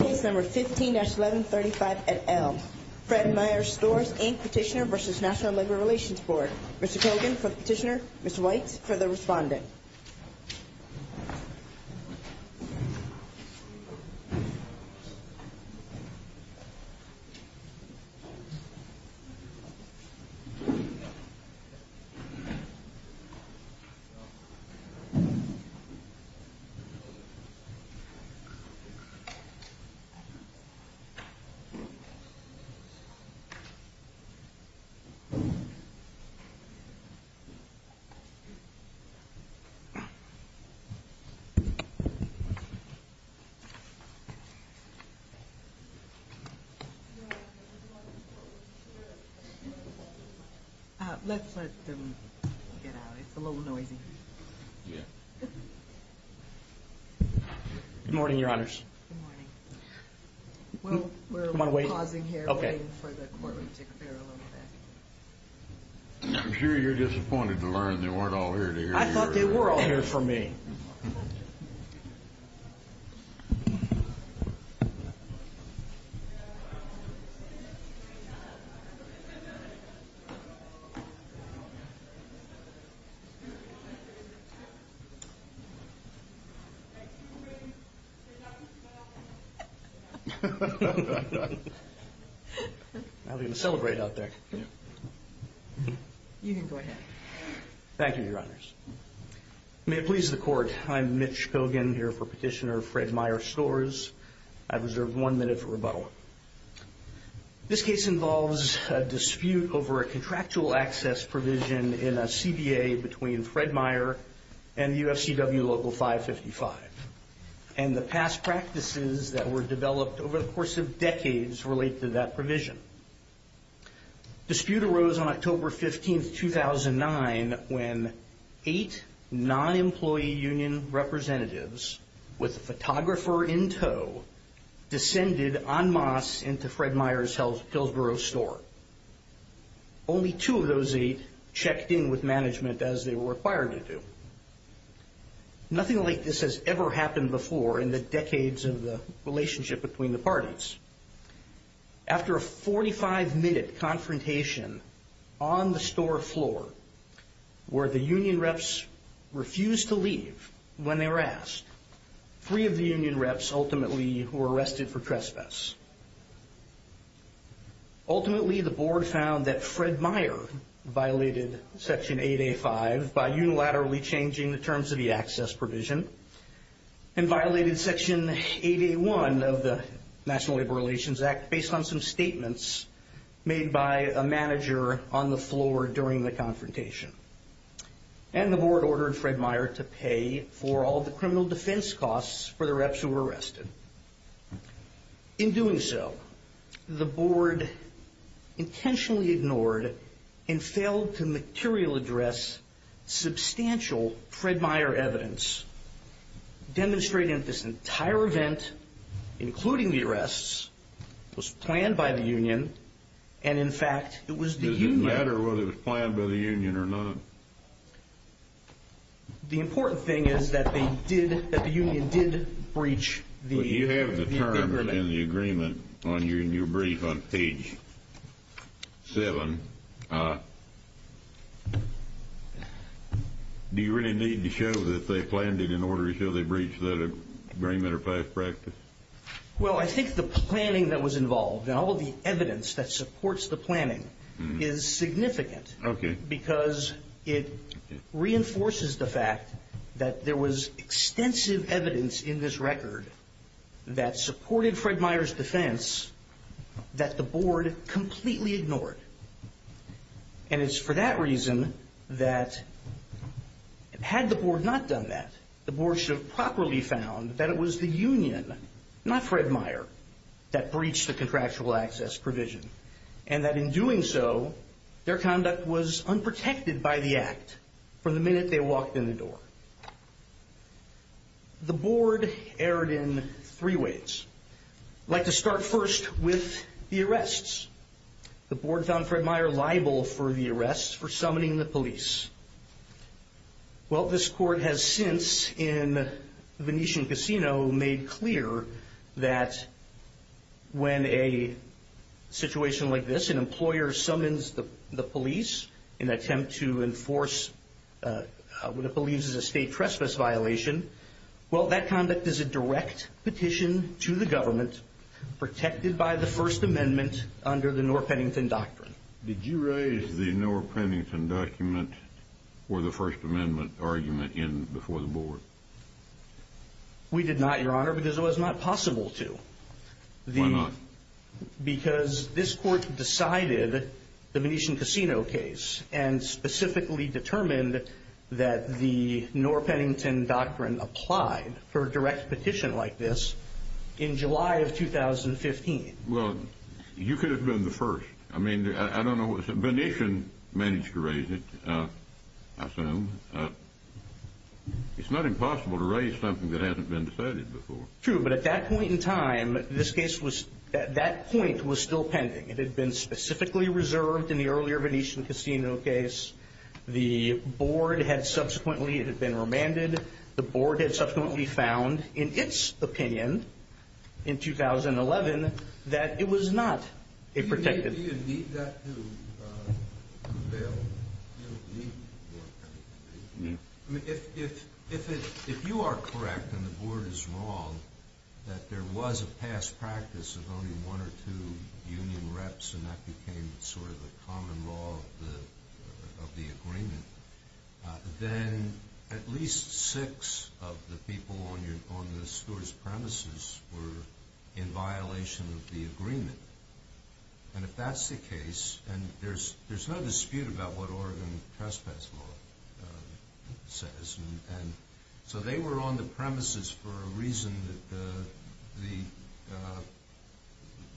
Case No. 15-1135 at Elm. Fred Meyer Stores, Inc. Petitioner v. National Labor Relations Board. Mr. Cogan for the petitioner, Mr. White for the respondent. Let's let them get out. It's a little noisy. Yeah. Good morning, your honors. Good morning. We're pausing here, waiting for the courtroom to clear a little bit. I'm sure you're disappointed to learn they weren't all here to hear you. I was going to celebrate out there. You can go ahead. Thank you, your honors. May it please the court, I'm Mitch Cogan here for petitioner Fred Meyer Stores. I've reserved one minute for rebuttal. This case involves a dispute over a contractual access provision in a CBA between Fred Meyer and UFCW Local 555. And the past practices that were developed over the course of decades relate to that provision. Dispute arose on October 15, 2009, when eight non-employee union representatives, with a photographer in tow, descended en masse into Fred Meyer's Hillsboro store. Only two of those eight checked in with management as they were required to do. Nothing like this has ever happened before in the decades of the relationship between the parties. After a 45-minute confrontation on the store floor, where the union reps refused to leave when they were asked, three of the union reps ultimately were arrested for trespass. Ultimately, the board found that Fred Meyer violated Section 8A.5 by unilaterally changing the terms of the access provision and violated Section 8A.1 of the National Labor Relations Act based on some statements made by a manager on the floor during the confrontation. And the board ordered Fred Meyer to pay for all the criminal defense costs for the reps who were arrested. In doing so, the board intentionally ignored and failed to material address substantial Fred Meyer evidence demonstrating that this entire event, including the arrests, was planned by the union, and in fact, it was the union. Does it matter whether it was planned by the union or not? The important thing is that the union did breach the agreement. In the agreement in your brief on page 7, do you really need to show that they planned it in order to show they breached that agreement or past practice? Well, I think the planning that was involved and all of the evidence that supports the planning is significant. Okay. Because it reinforces the fact that there was extensive evidence in this record that supported Fred Meyer's defense that the board completely ignored. And it's for that reason that, had the board not done that, the board should have properly found that it was the union, not Fred Meyer, that breached the contractual access provision. And that in doing so, their conduct was unprotected by the act from the minute they walked in the door. The board erred in three ways. I'd like to start first with the arrests. The board found Fred Meyer liable for the arrests for summoning the police. Well, this court has since, in the Venetian Casino, made clear that when a situation like this, an employer summons the police in an attempt to enforce what it believes is a state trespass violation, well, that conduct is a direct petition to the government, protected by the First Amendment under the Norr-Pennington Doctrine. Did you raise the Norr-Pennington Document or the First Amendment argument before the board? We did not, Your Honor, because it was not possible to. Why not? Because this court decided the Venetian Casino case and specifically determined that the Norr-Pennington Doctrine applied for a direct petition like this in July of 2015. Well, you could have been the first. I mean, I don't know what... Venetian managed to raise it, I assume. It's not impossible to raise something that hasn't been decided before. True, but at that point in time, this case was... that point was still pending. It had been specifically reserved in the earlier Venetian Casino case. The board had subsequently... it had been remanded. The board had subsequently found, in its opinion, in 2011, that it was not a protected... Do you need that to avail... you don't need more time. I mean, if you are correct and the board is wrong, that there was a past practice of only one or two union reps and that became sort of the common law of the agreement, then at least six of the people on the steward's premises were in violation of the agreement. And if that's the case, and there's no dispute about what Oregon Trespass Law says, so they were on the premises for a reason that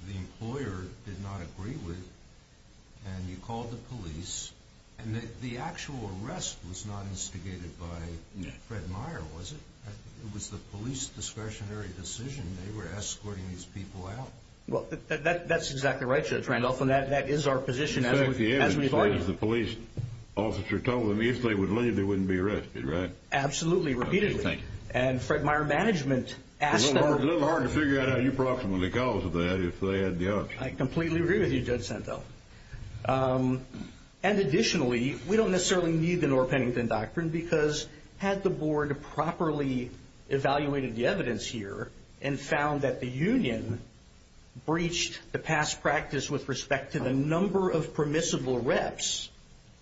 the employer did not agree with, and you called the police, and the actual arrest was not instigated by Fred Meyer, was it? It was the police discretionary decision. They were escorting these people out. Well, that's exactly right, Judge Randolph, and that is our position as an attorney. In fact, the evidence says the police officer told them if they would leave, they wouldn't be arrested, right? Absolutely, repeatedly. Okay, thank you. And Fred Meyer management asked them... It's a little hard to figure out how you approximately caused that if they had the option. I completely agree with you, Judge Sento. And additionally, we don't necessarily need the Norr-Pennington Doctrine because had the board properly evaluated the evidence here and found that the union breached the past practice with respect to the number of permissible reps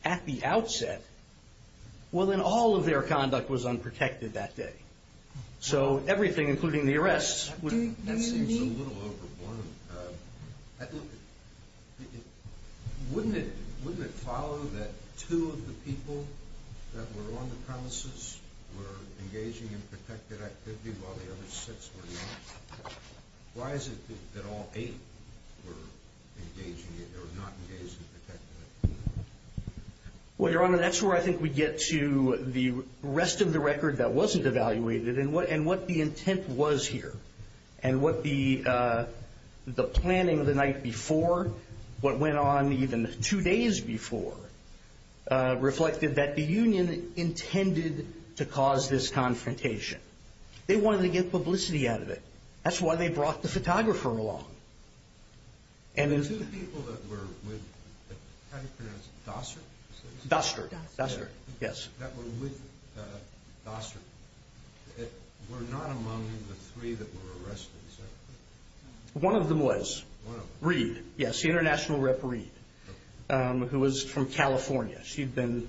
at the outset, well, then all of their conduct was unprotected that day. So everything, including the arrests... That seems a little overblown. Wouldn't it follow that two of the people that were on the premises were engaging in protected activity while the other six were not? Why is it that all eight were engaging yet they were not engaged in protected activity? Well, Your Honor, that's where I think we get to the rest of the record that wasn't evaluated and what the intent was here and what the planning the night before, what went on even two days before, reflected that the union intended to cause this confrontation. They wanted to get publicity out of it. That's why they brought the photographer along. The two people that were with, how do you pronounce it, Doster? Doster, yes. That were with Doster. They were not among the three that were arrested, sir. One of them was. One of them. Reid, yes, the international rep Reid, who was from California. She'd been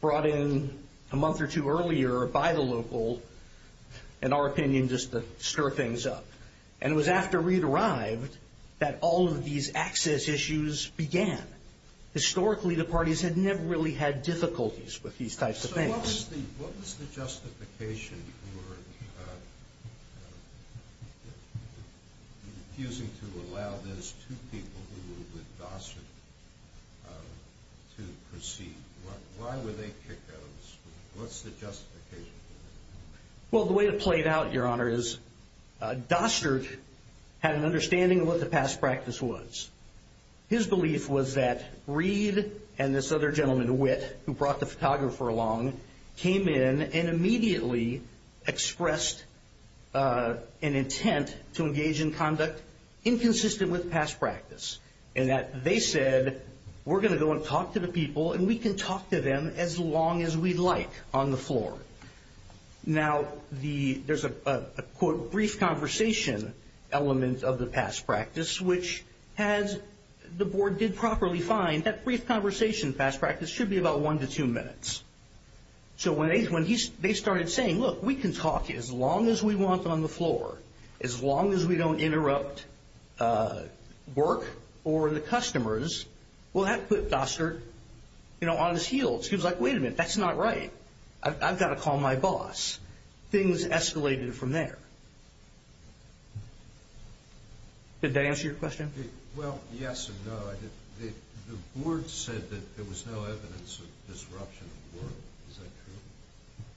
brought in a month or two earlier by the local, in our opinion, just to stir things up. And it was after Reid arrived that all of these access issues began. Historically, the parties had never really had difficulties with these types of things. So what was the justification for refusing to allow those two people who were with Doster to proceed? Why were they kicked out of the school? What's the justification for that? Well, the way it played out, Your Honor, is Doster had an understanding of what the past practice was. His belief was that Reid and this other gentleman, Witt, who brought the photographer along, came in and immediately expressed an intent to engage in conduct inconsistent with past practice. And that they said, we're going to go and talk to the people, and we can talk to them as long as we'd like on the floor. Now, there's a, quote, brief conversation element of the past practice, which the board did properly find that brief conversation past practice should be about one to two minutes. So when they started saying, look, we can talk as long as we want on the floor, as long as we don't interrupt work or the customers, well, that put Doster on his heels. He was like, wait a minute, that's not right. I've got to call my boss. Things escalated from there. Did that answer your question? Well, yes and no. The board said that there was no evidence of disruption of work. Is that true?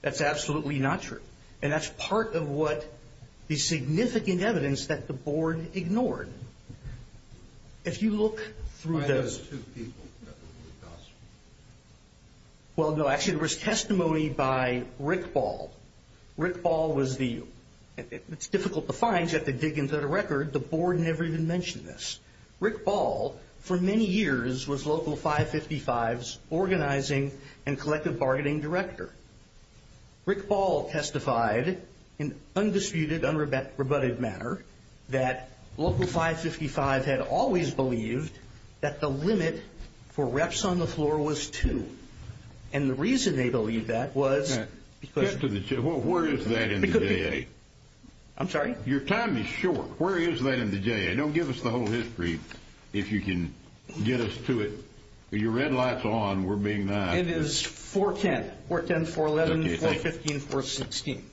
That's absolutely not true. And that's part of what the significant evidence that the board ignored. If you look through the – I noticed two people that were with Doster. Well, no, actually, there was testimony by Rick Ball. Rick Ball was the – it's difficult to find. You have to dig into the record. The board never even mentioned this. Rick Ball, for many years, was Local 555's organizing and collective bargaining director. Rick Ball testified in undisputed, unrebutted manner that Local 555 had always believed that the limit for reps on the floor was two. And the reason they believed that was because – Where is that in the DA? I'm sorry? Your time is short. Where is that in the DA? Don't give us the whole history if you can get us to it. Your red light's on. We're being nice. It is 410. 410, 411, 415, 416.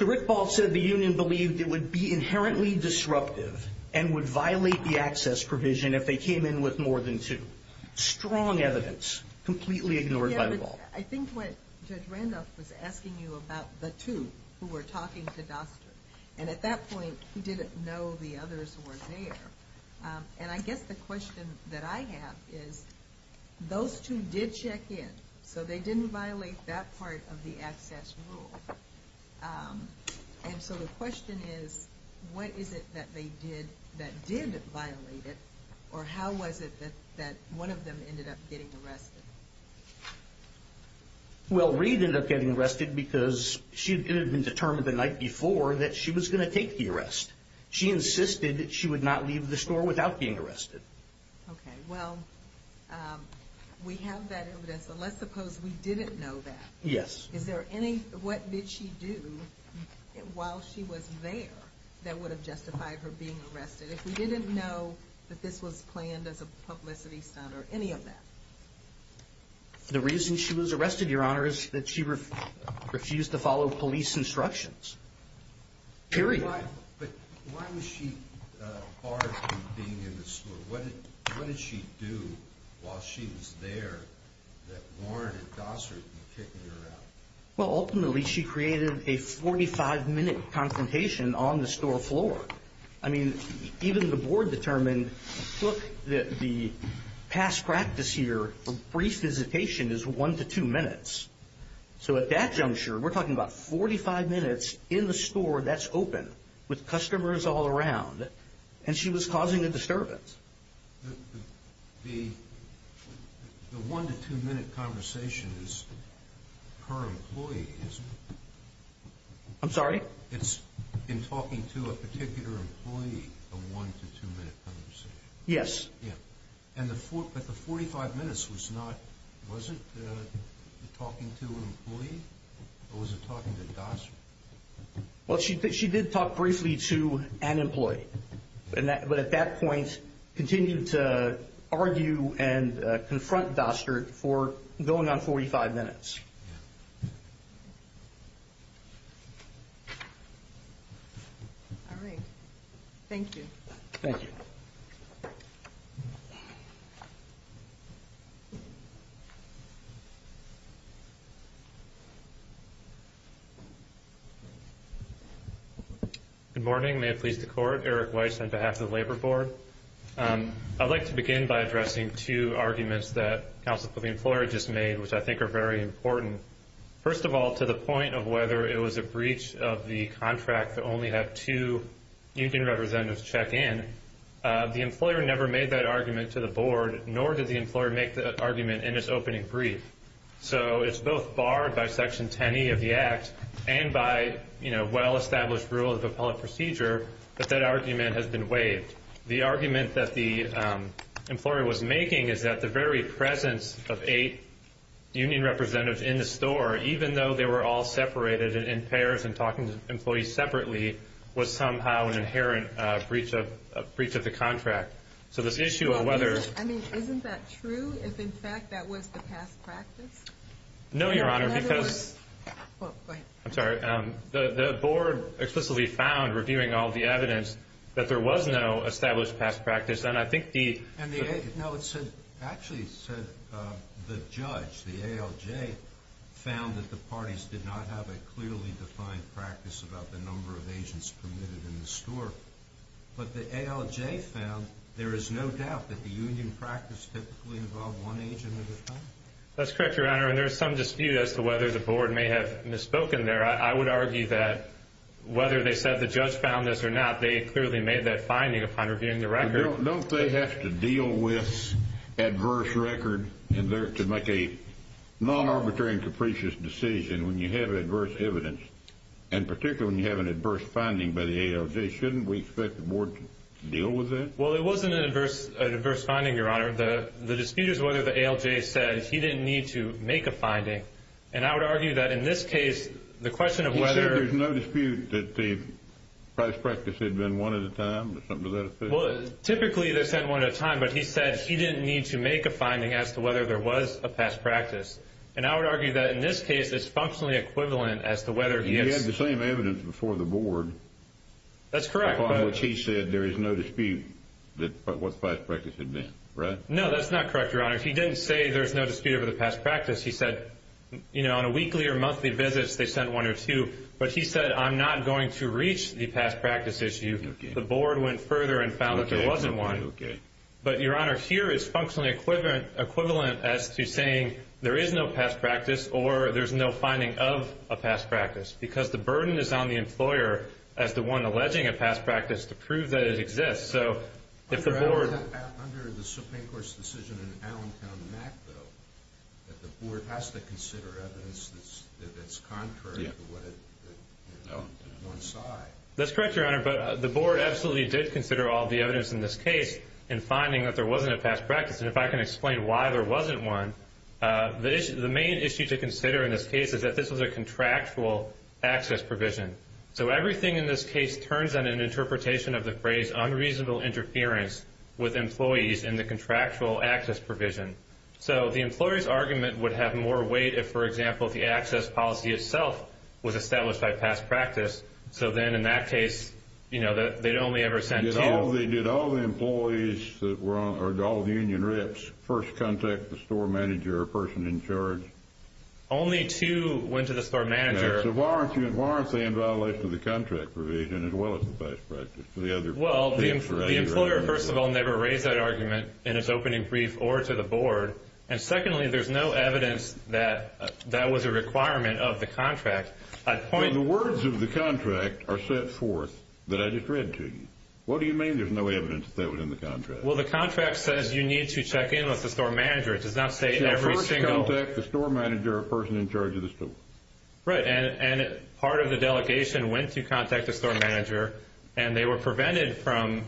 Rick Ball said the union believed it would be inherently disruptive and would violate the access provision if they came in with more than two. Strong evidence, completely ignored by the law. I think what Judge Randolph was asking you about the two who were talking to Doster, and at that point, he didn't know the others were there. And I guess the question that I have is those two did check in, so they didn't violate that part of the access rule. And so the question is, what is it that they did that did violate it, or how was it that one of them ended up getting arrested? Well, Reed ended up getting arrested because she had been determined the night before that she was going to take the arrest. She insisted that she would not leave the store without being arrested. Okay, well, we have that evidence, so let's suppose we didn't know that. Yes. What did she do while she was there that would have justified her being arrested if we didn't know that this was planned as a publicity stunt or any of that? The reason she was arrested, Your Honor, is that she refused to follow police instructions. Period. But why was she barred from being in the store? What did she do while she was there that warranted Dosser to be kicking her out? Well, ultimately, she created a 45-minute confrontation on the store floor. I mean, even the board determined, look, the past practice here for brief visitation is one to two minutes. So at that juncture, we're talking about 45 minutes in the store that's open with customers all around, and she was causing a disturbance. The one-to-two-minute conversation is per employee, isn't it? I'm sorry? It's in talking to a particular employee, a one-to-two-minute conversation. Yes. Yeah. But the 45 minutes wasn't talking to an employee or was it talking to Dosser? Well, she did talk briefly to an employee, but at that point, continued to argue and confront Dosser for going on 45 minutes. All right. Thank you. Thank you. Good morning. May it please the Court. Eric Weiss on behalf of the Labor Board. I'd like to begin by addressing two arguments that Councilwoman Fleury just made, which I think are very important. First of all, to the point of whether it was a breach of the contract to only have two union representatives check in, the employer never made that argument to the board, nor did the employer make the argument in its opening brief. So it's both barred by Section 10E of the Act and by well-established rules of appellate procedure that that argument has been waived. The argument that the employer was making is that the very presence of eight union representatives in the store, even though they were all separated in pairs and talking to employees separately, was somehow an inherent breach of the contract. So this issue of whether – No, Your Honor, because – Well, go ahead. I'm sorry. The board explicitly found, reviewing all the evidence, that there was no established past practice, and I think the – No, it actually said the judge, the ALJ, found that the parties did not have a clearly defined practice about the number of agents permitted in the store. But the ALJ found there is no doubt that the union practice typically involved one agent at a time. That's correct, Your Honor, and there is some dispute as to whether the board may have misspoken there. I would argue that whether they said the judge found this or not, they clearly made that finding upon reviewing the record. Don't they have to deal with adverse record to make a non-arbitrary and capricious decision when you have adverse evidence, and particularly when you have an adverse finding by the ALJ? Shouldn't we expect the board to deal with that? Well, it wasn't an adverse finding, Your Honor. The dispute is whether the ALJ said he didn't need to make a finding, and I would argue that in this case, the question of whether— You said there's no dispute that the past practice had been one at a time? Something to that effect? Well, typically they said one at a time, but he said he didn't need to make a finding as to whether there was a past practice, and I would argue that in this case, it's functionally equivalent as to whether he has— He had the same evidence before the board. That's correct. Upon which he said there is no dispute what the past practice had been, right? No, that's not correct, Your Honor. He didn't say there's no dispute over the past practice. He said on a weekly or monthly visit, they sent one or two, but he said I'm not going to reach the past practice issue. The board went further and found that there wasn't one. But, Your Honor, here it's functionally equivalent as to saying there is no past practice or there's no finding of a past practice because the burden is on the employer as the one alleging a past practice to prove that it exists. So if the board— Under the Supreme Court's decision in Allentown, Mackville, that the board has to consider evidence that's contrary to one side. That's correct, Your Honor, but the board absolutely did consider all the evidence in this case in finding that there wasn't a past practice. And if I can explain why there wasn't one, the main issue to consider in this case is that this was a contractual access provision. So everything in this case turns in an interpretation of the phrase unreasonable interference with employees in the contractual access provision. So the employee's argument would have more weight if, for example, the access policy itself was established by past practice. So then in that case, you know, they'd only ever send two. Did all the employees or all the union reps first contact the store manager or person in charge? Only two went to the store manager. So why aren't they in violation of the contract provision Well, the employer, first of all, never raised that argument in its opening brief or to the board. And secondly, there's no evidence that that was a requirement of the contract. The words of the contract are set forth that I just read to you. What do you mean there's no evidence that that was in the contract? Well, the contract says you need to check in with the store manager. It does not say every single. So first contact the store manager or person in charge of the store. And part of the delegation went to contact the store manager, and they were prevented from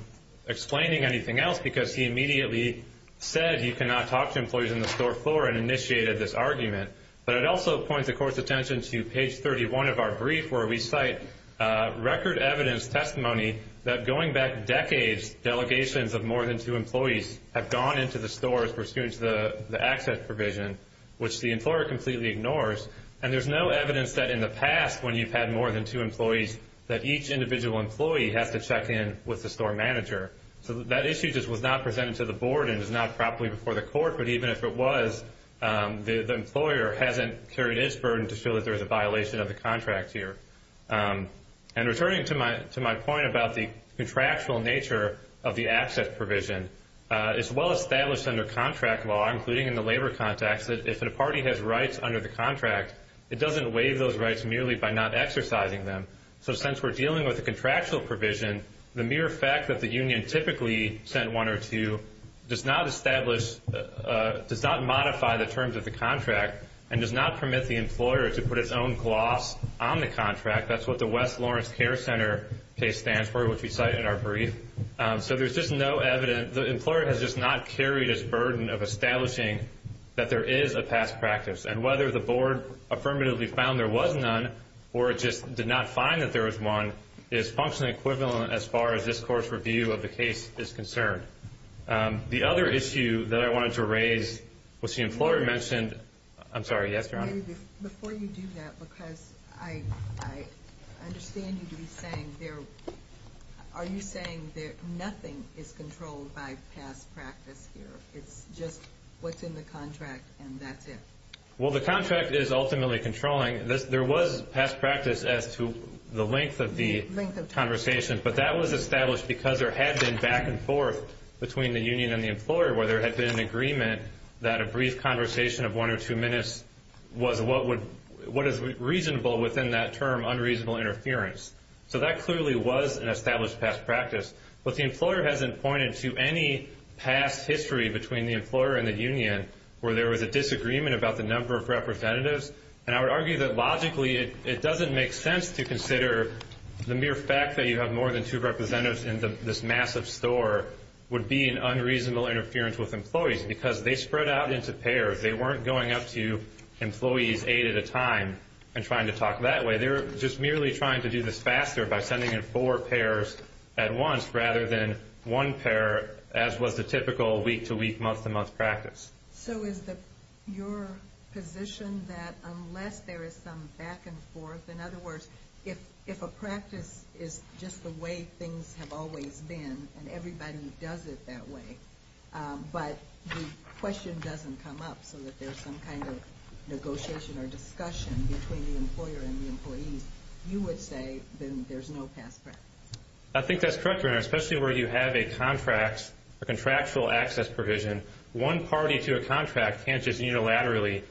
explaining anything else because he immediately said you cannot talk to employees in the store floor and initiated this argument. But it also points the court's attention to page 31 of our brief where we cite record evidence testimony that going back decades, delegations of more than two employees have gone into the stores pursuant to the access provision, which the employer completely ignores. And there's no evidence that in the past when you've had more than two employees that each individual employee has to check in with the store manager. So that issue just was not presented to the board and is not properly before the court. But even if it was, the employer hasn't carried its burden to feel that there's a violation of the contract here. And returning to my point about the contractual nature of the access provision, it's well established under contract law, including in the labor context, that if a party has rights under the contract, it doesn't waive those rights merely by not exercising them. So since we're dealing with a contractual provision, the mere fact that the union typically sent one or two does not establish, does not modify the terms of the contract and does not permit the employer to put its own gloss on the contract. That's what the West Lawrence Care Center case stands for, which we cite in our brief. So there's just no evidence. The employer has just not carried its burden of establishing that there is a past practice. And whether the board affirmatively found there was none or it just did not find that there was one is functionally equivalent as far as this court's review of the case is concerned. The other issue that I wanted to raise was the employer mentioned— I'm sorry, yes, Your Honor? Before you do that, because I understand you to be saying there— It's just what's in the contract, and that's it. Well, the contract is ultimately controlling. There was past practice as to the length of the conversation, but that was established because there had been back and forth between the union and the employer where there had been an agreement that a brief conversation of one or two minutes was what is reasonable within that term, unreasonable interference. So that clearly was an established past practice. But the employer hasn't pointed to any past history between the employer and the union where there was a disagreement about the number of representatives. And I would argue that logically it doesn't make sense to consider the mere fact that you have more than two representatives in this massive store would be an unreasonable interference with employees because they spread out into pairs. They weren't going up to employees eight at a time and trying to talk that way. They're just merely trying to do this faster by sending in four pairs at once rather than one pair as was the typical week-to-week, month-to-month practice. So is your position that unless there is some back and forth, in other words, if a practice is just the way things have always been and everybody does it that way, but the question doesn't come up so that there's some kind of negotiation or discussion between the employer and the employees, you would say then there's no past practice? I think that's correct, especially where you have a contractual access provision. One party to a contract can't just unilaterally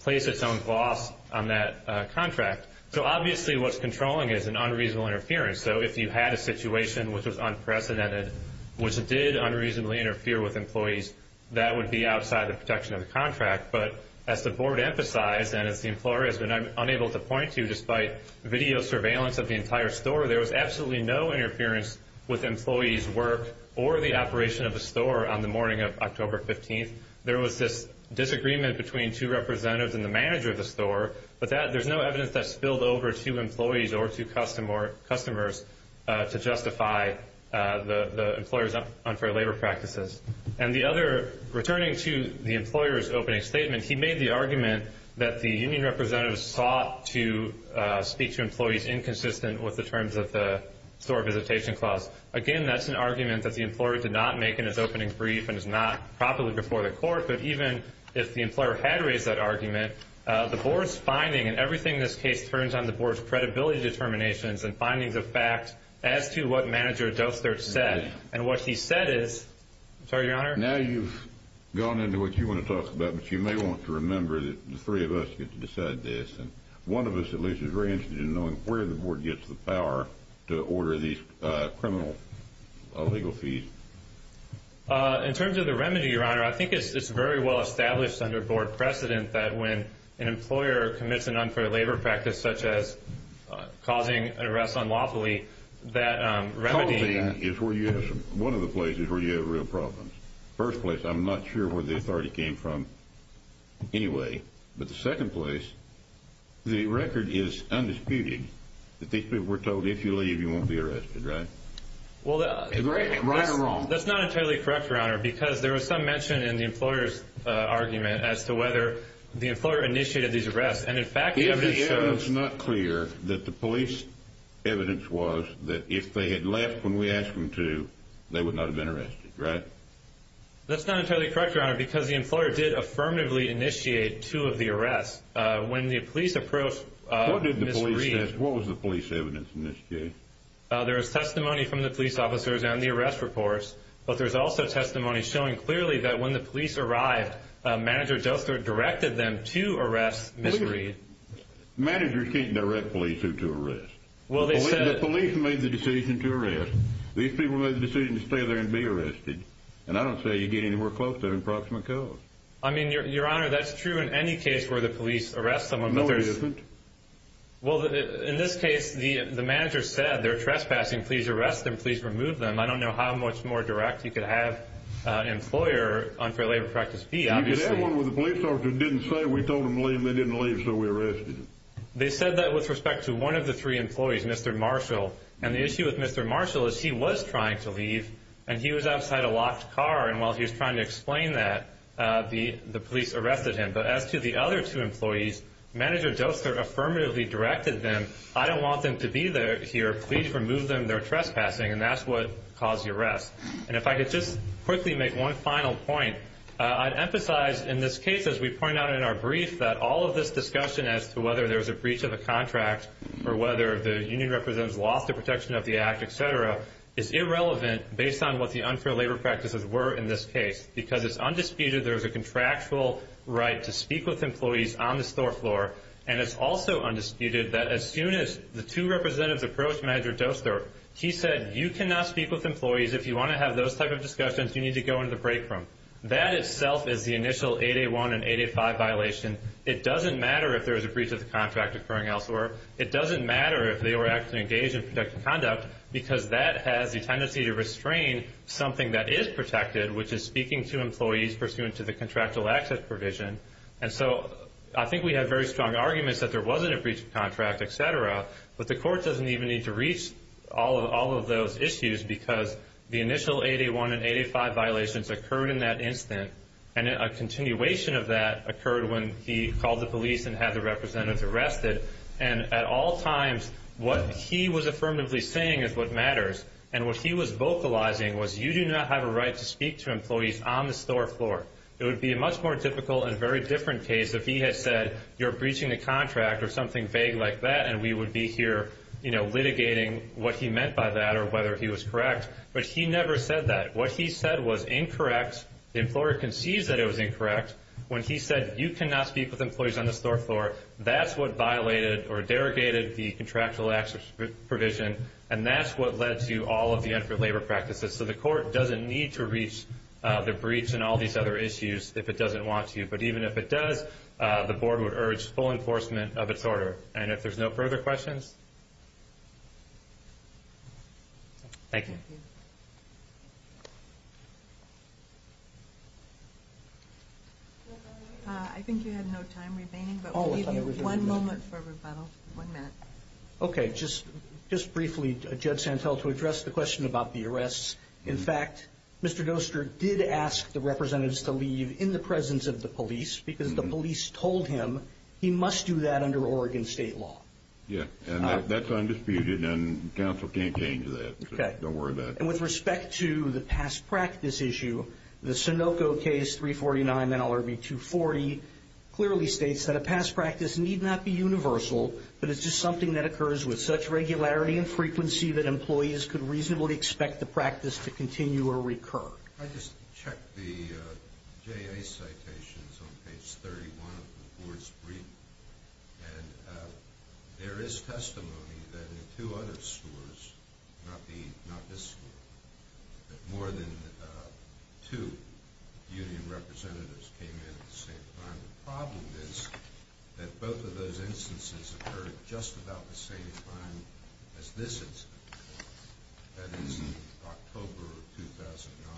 place its own boss on that contract. So obviously what's controlling is an unreasonable interference. So if you had a situation which was unprecedented, which did unreasonably interfere with employees, that would be outside the protection of the contract. But as the board emphasized and as the employer has been unable to point to, despite video surveillance of the entire store, there was absolutely no interference with employees' work or the operation of the store on the morning of October 15th. There was this disagreement between two representatives and the manager of the store, but there's no evidence that spilled over to employees or to customers to justify the employer's unfair labor practices. And the other, returning to the employer's opening statement, he made the argument that the union representatives sought to speak to employees inconsistent with the terms of the store visitation clause. Again, that's an argument that the employer did not make in his opening brief and is not properly before the court. But even if the employer had raised that argument, the board's finding, and everything in this case turns on the board's credibility determinations and findings of fact as to what manager Dostert said. And what he said is, I'm sorry, Your Honor. Now you've gone into what you want to talk about, but you may want to remember that the three of us get to decide this. And one of us at least is very interested in knowing where the board gets the power to order these criminal legal fees. In terms of the remedy, Your Honor, I think it's very well established under board precedent that when an employer commits an unfair labor practice such as causing an arrest unlawfully, that remedy is where you have some – one of the places where you have real problems. First place, I'm not sure where the authority came from anyway. But the second place, the record is undisputed that these people were told, if you leave, you won't be arrested, right? Right or wrong? That's not entirely correct, Your Honor, because there was some mention in the employer's argument as to whether the employer initiated these arrests. It's not clear that the police evidence was that if they had left when we asked them to, they would not have been arrested, right? That's not entirely correct, Your Honor, because the employer did affirmatively initiate two of the arrests. When the police approached Ms. Reed – What did the police say? What was the police evidence in this case? There is testimony from the police officers and the arrest reports, but there's also testimony showing clearly that when the police arrived, Manager Doster directed them to arrest Ms. Reed. Managers can't direct police to arrest. Well, they said – The police made the decision to arrest. These people made the decision to stay there and be arrested. And I don't say you get anywhere close to an approximate cause. I mean, Your Honor, that's true in any case where the police arrest someone. No, it isn't. Well, in this case, the manager said, they're trespassing, please arrest them, please remove them. I don't know how much more direct you could have an employer on fair labor practice be, obviously. You could have one with a police officer who didn't say, we told them to leave and they didn't leave, so we arrested them. They said that with respect to one of the three employees, Mr. Marshall. And the issue with Mr. Marshall is he was trying to leave, and he was outside a locked car. And while he was trying to explain that, the police arrested him. But as to the other two employees, Manager Doster affirmatively directed them, I don't want them to be here, please remove them, they're trespassing. And that's what caused the arrest. And if I could just quickly make one final point, I'd emphasize in this case, as we point out in our brief, that all of this discussion as to whether there's a breach of a contract or whether the union representatives lost their protection of the act, et cetera, is irrelevant based on what the unfair labor practices were in this case. Because it's undisputed there's a contractual right to speak with employees on the store floor, and it's also undisputed that as soon as the two representatives approached Manager Doster, he said, you cannot speak with employees. If you want to have those type of discussions, you need to go into the break room. That itself is the initial 8A1 and 8A5 violation. It doesn't matter if there was a breach of the contract occurring elsewhere. It doesn't matter if they were actually engaged in productive conduct because that has the tendency to restrain something that is protected, which is speaking to employees pursuant to the contractual access provision. And so I think we have very strong arguments that there wasn't a breach of contract, et cetera, but the court doesn't even need to reach all of those issues because the initial 8A1 and 8A5 violations occurred in that instant, and a continuation of that occurred when he called the police and had the representatives arrested. And at all times what he was affirmatively saying is what matters, and what he was vocalizing was you do not have a right to speak to employees on the store floor. It would be a much more difficult and very different case if he had said, you're breaching a contract or something vague like that, and we would be here litigating what he meant by that or whether he was correct. But he never said that. What he said was incorrect. The employer concedes that it was incorrect. When he said you cannot speak with employees on the store floor, that's what violated or derogated the contractual access provision, and that's what led to all of the unfit labor practices. So the court doesn't need to reach the breach and all these other issues if it doesn't want to. But even if it does, the board would urge full enforcement of its order. And if there's no further questions, thank you. Thank you. I think you have no time remaining, but we'll give you one moment for rebuttal. One minute. Okay, just briefly, Judge Santel, to address the question about the arrests. In fact, Mr. Doster did ask the representatives to leave in the presence of the police because the police told him he must do that under Oregon state law. Yeah, and that's undisputed, and counsel can't change that. Okay. Don't worry about it. And with respect to the past practice issue, the Sunoco case, 349 NLRB 240, clearly states that a past practice need not be universal, but it's just something that occurs with such regularity and frequency that employees could reasonably expect the practice to continue or recur. Can I just check the JA citations on page 31 of the board's brief? And there is testimony that in two other scores, not this score, that more than two union representatives came in at the same time. The problem is that both of those instances occurred just about the same time as this incident. That is, October of 2009.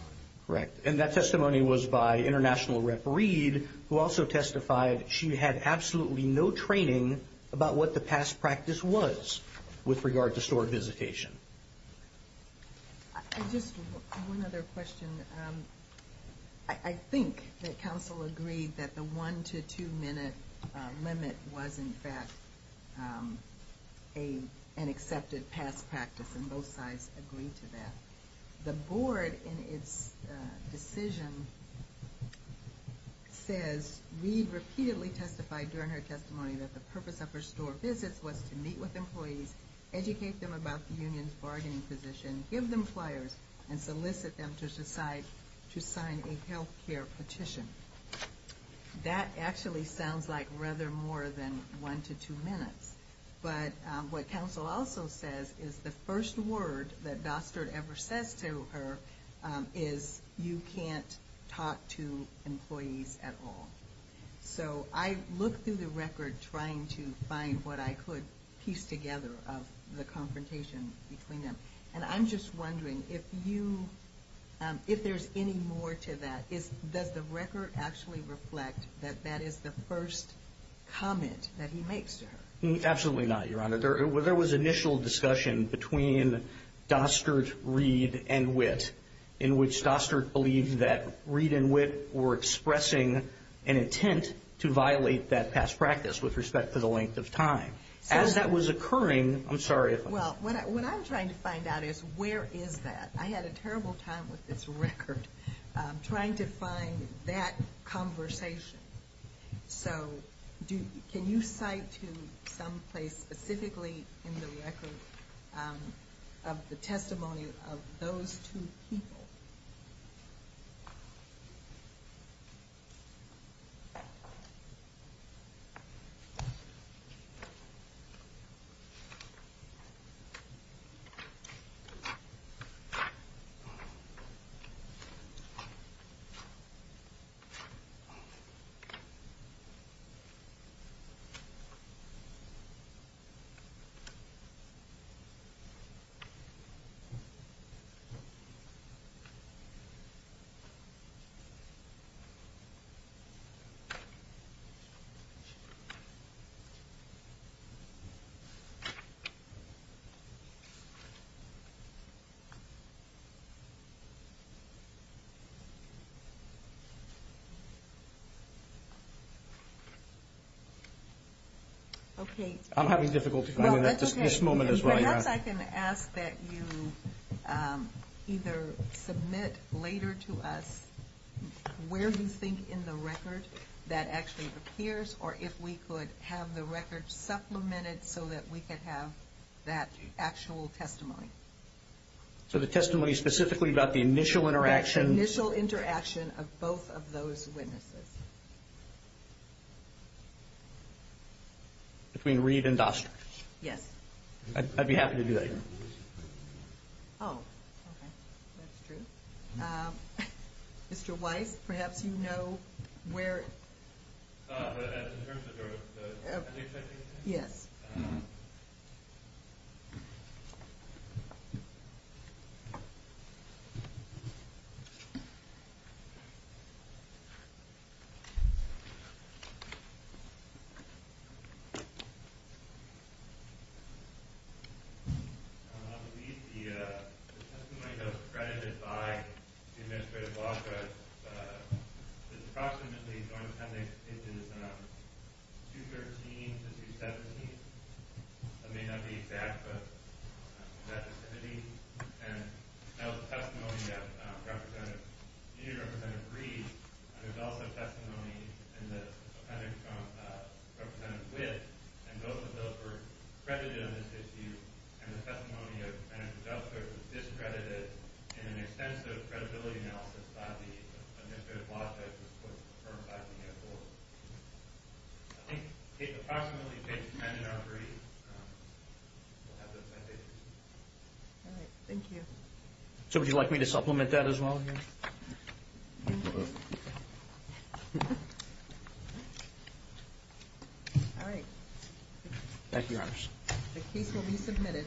Correct, and that testimony was by International Rep. Reed, who also testified she had absolutely no training about what the past practice was with regard to stored visitation. Just one other question. I think that counsel agreed that the one- to two-minute limit was, in fact, an accepted past practice, and both sides agreed to that. The board, in its decision, says Reed repeatedly testified during her testimony that the purpose of her store visits was to meet with employees, educate them about the union's bargaining position, give them flyers, and solicit them to sign a health care petition. That actually sounds like rather more than one to two minutes. But what counsel also says is the first word that Dostert ever says to her is you can't talk to employees at all. So I looked through the record trying to find what I could piece together of the confrontation between them. And I'm just wondering if there's any more to that. Does the record actually reflect that that is the first comment that he makes to her? Absolutely not, Your Honor. There was initial discussion between Dostert, Reed, and Witt, in which Dostert believed that Reed and Witt were expressing an intent to violate that past practice with respect to the length of time. As that was occurring, I'm sorry if I'm wrong. Well, what I'm trying to find out is where is that? I had a terrible time with this record trying to find that conversation. So can you cite to some place specifically in the record of the testimony of those two people? Okay. I'm having difficulty finding it at this moment as well. Perhaps I can ask that you either submit later to us where you think in the record that actually appears, or if we could have the record supplemented so that we could have that actual testimony. So the testimony specifically about the initial interaction? The initial interaction of both of those witnesses. Between Reed and Dostert? Yes. I'd be happy to do that. Oh, okay. That's true. Mr. Weiss, perhaps you know where? In terms of the case? Yes. Thank you. I believe the testimony that was credited by the administrative block was approximately It is 213 to 217. It may not be exact, but that vicinity. And that was the testimony of Senior Representative Reed. There's also testimony in the appendix from Representative Witt. And both of those were credited on this issue. And the testimony of Senator Dostert was discredited in an extensive credibility analysis by the administrative block that was put to the firm back in the airport. I think it approximately fits Senator Reed. We'll have the appendix. All right, thank you. So would you like me to supplement that as well? All right. Thank you, Your Honor. The case will be submitted.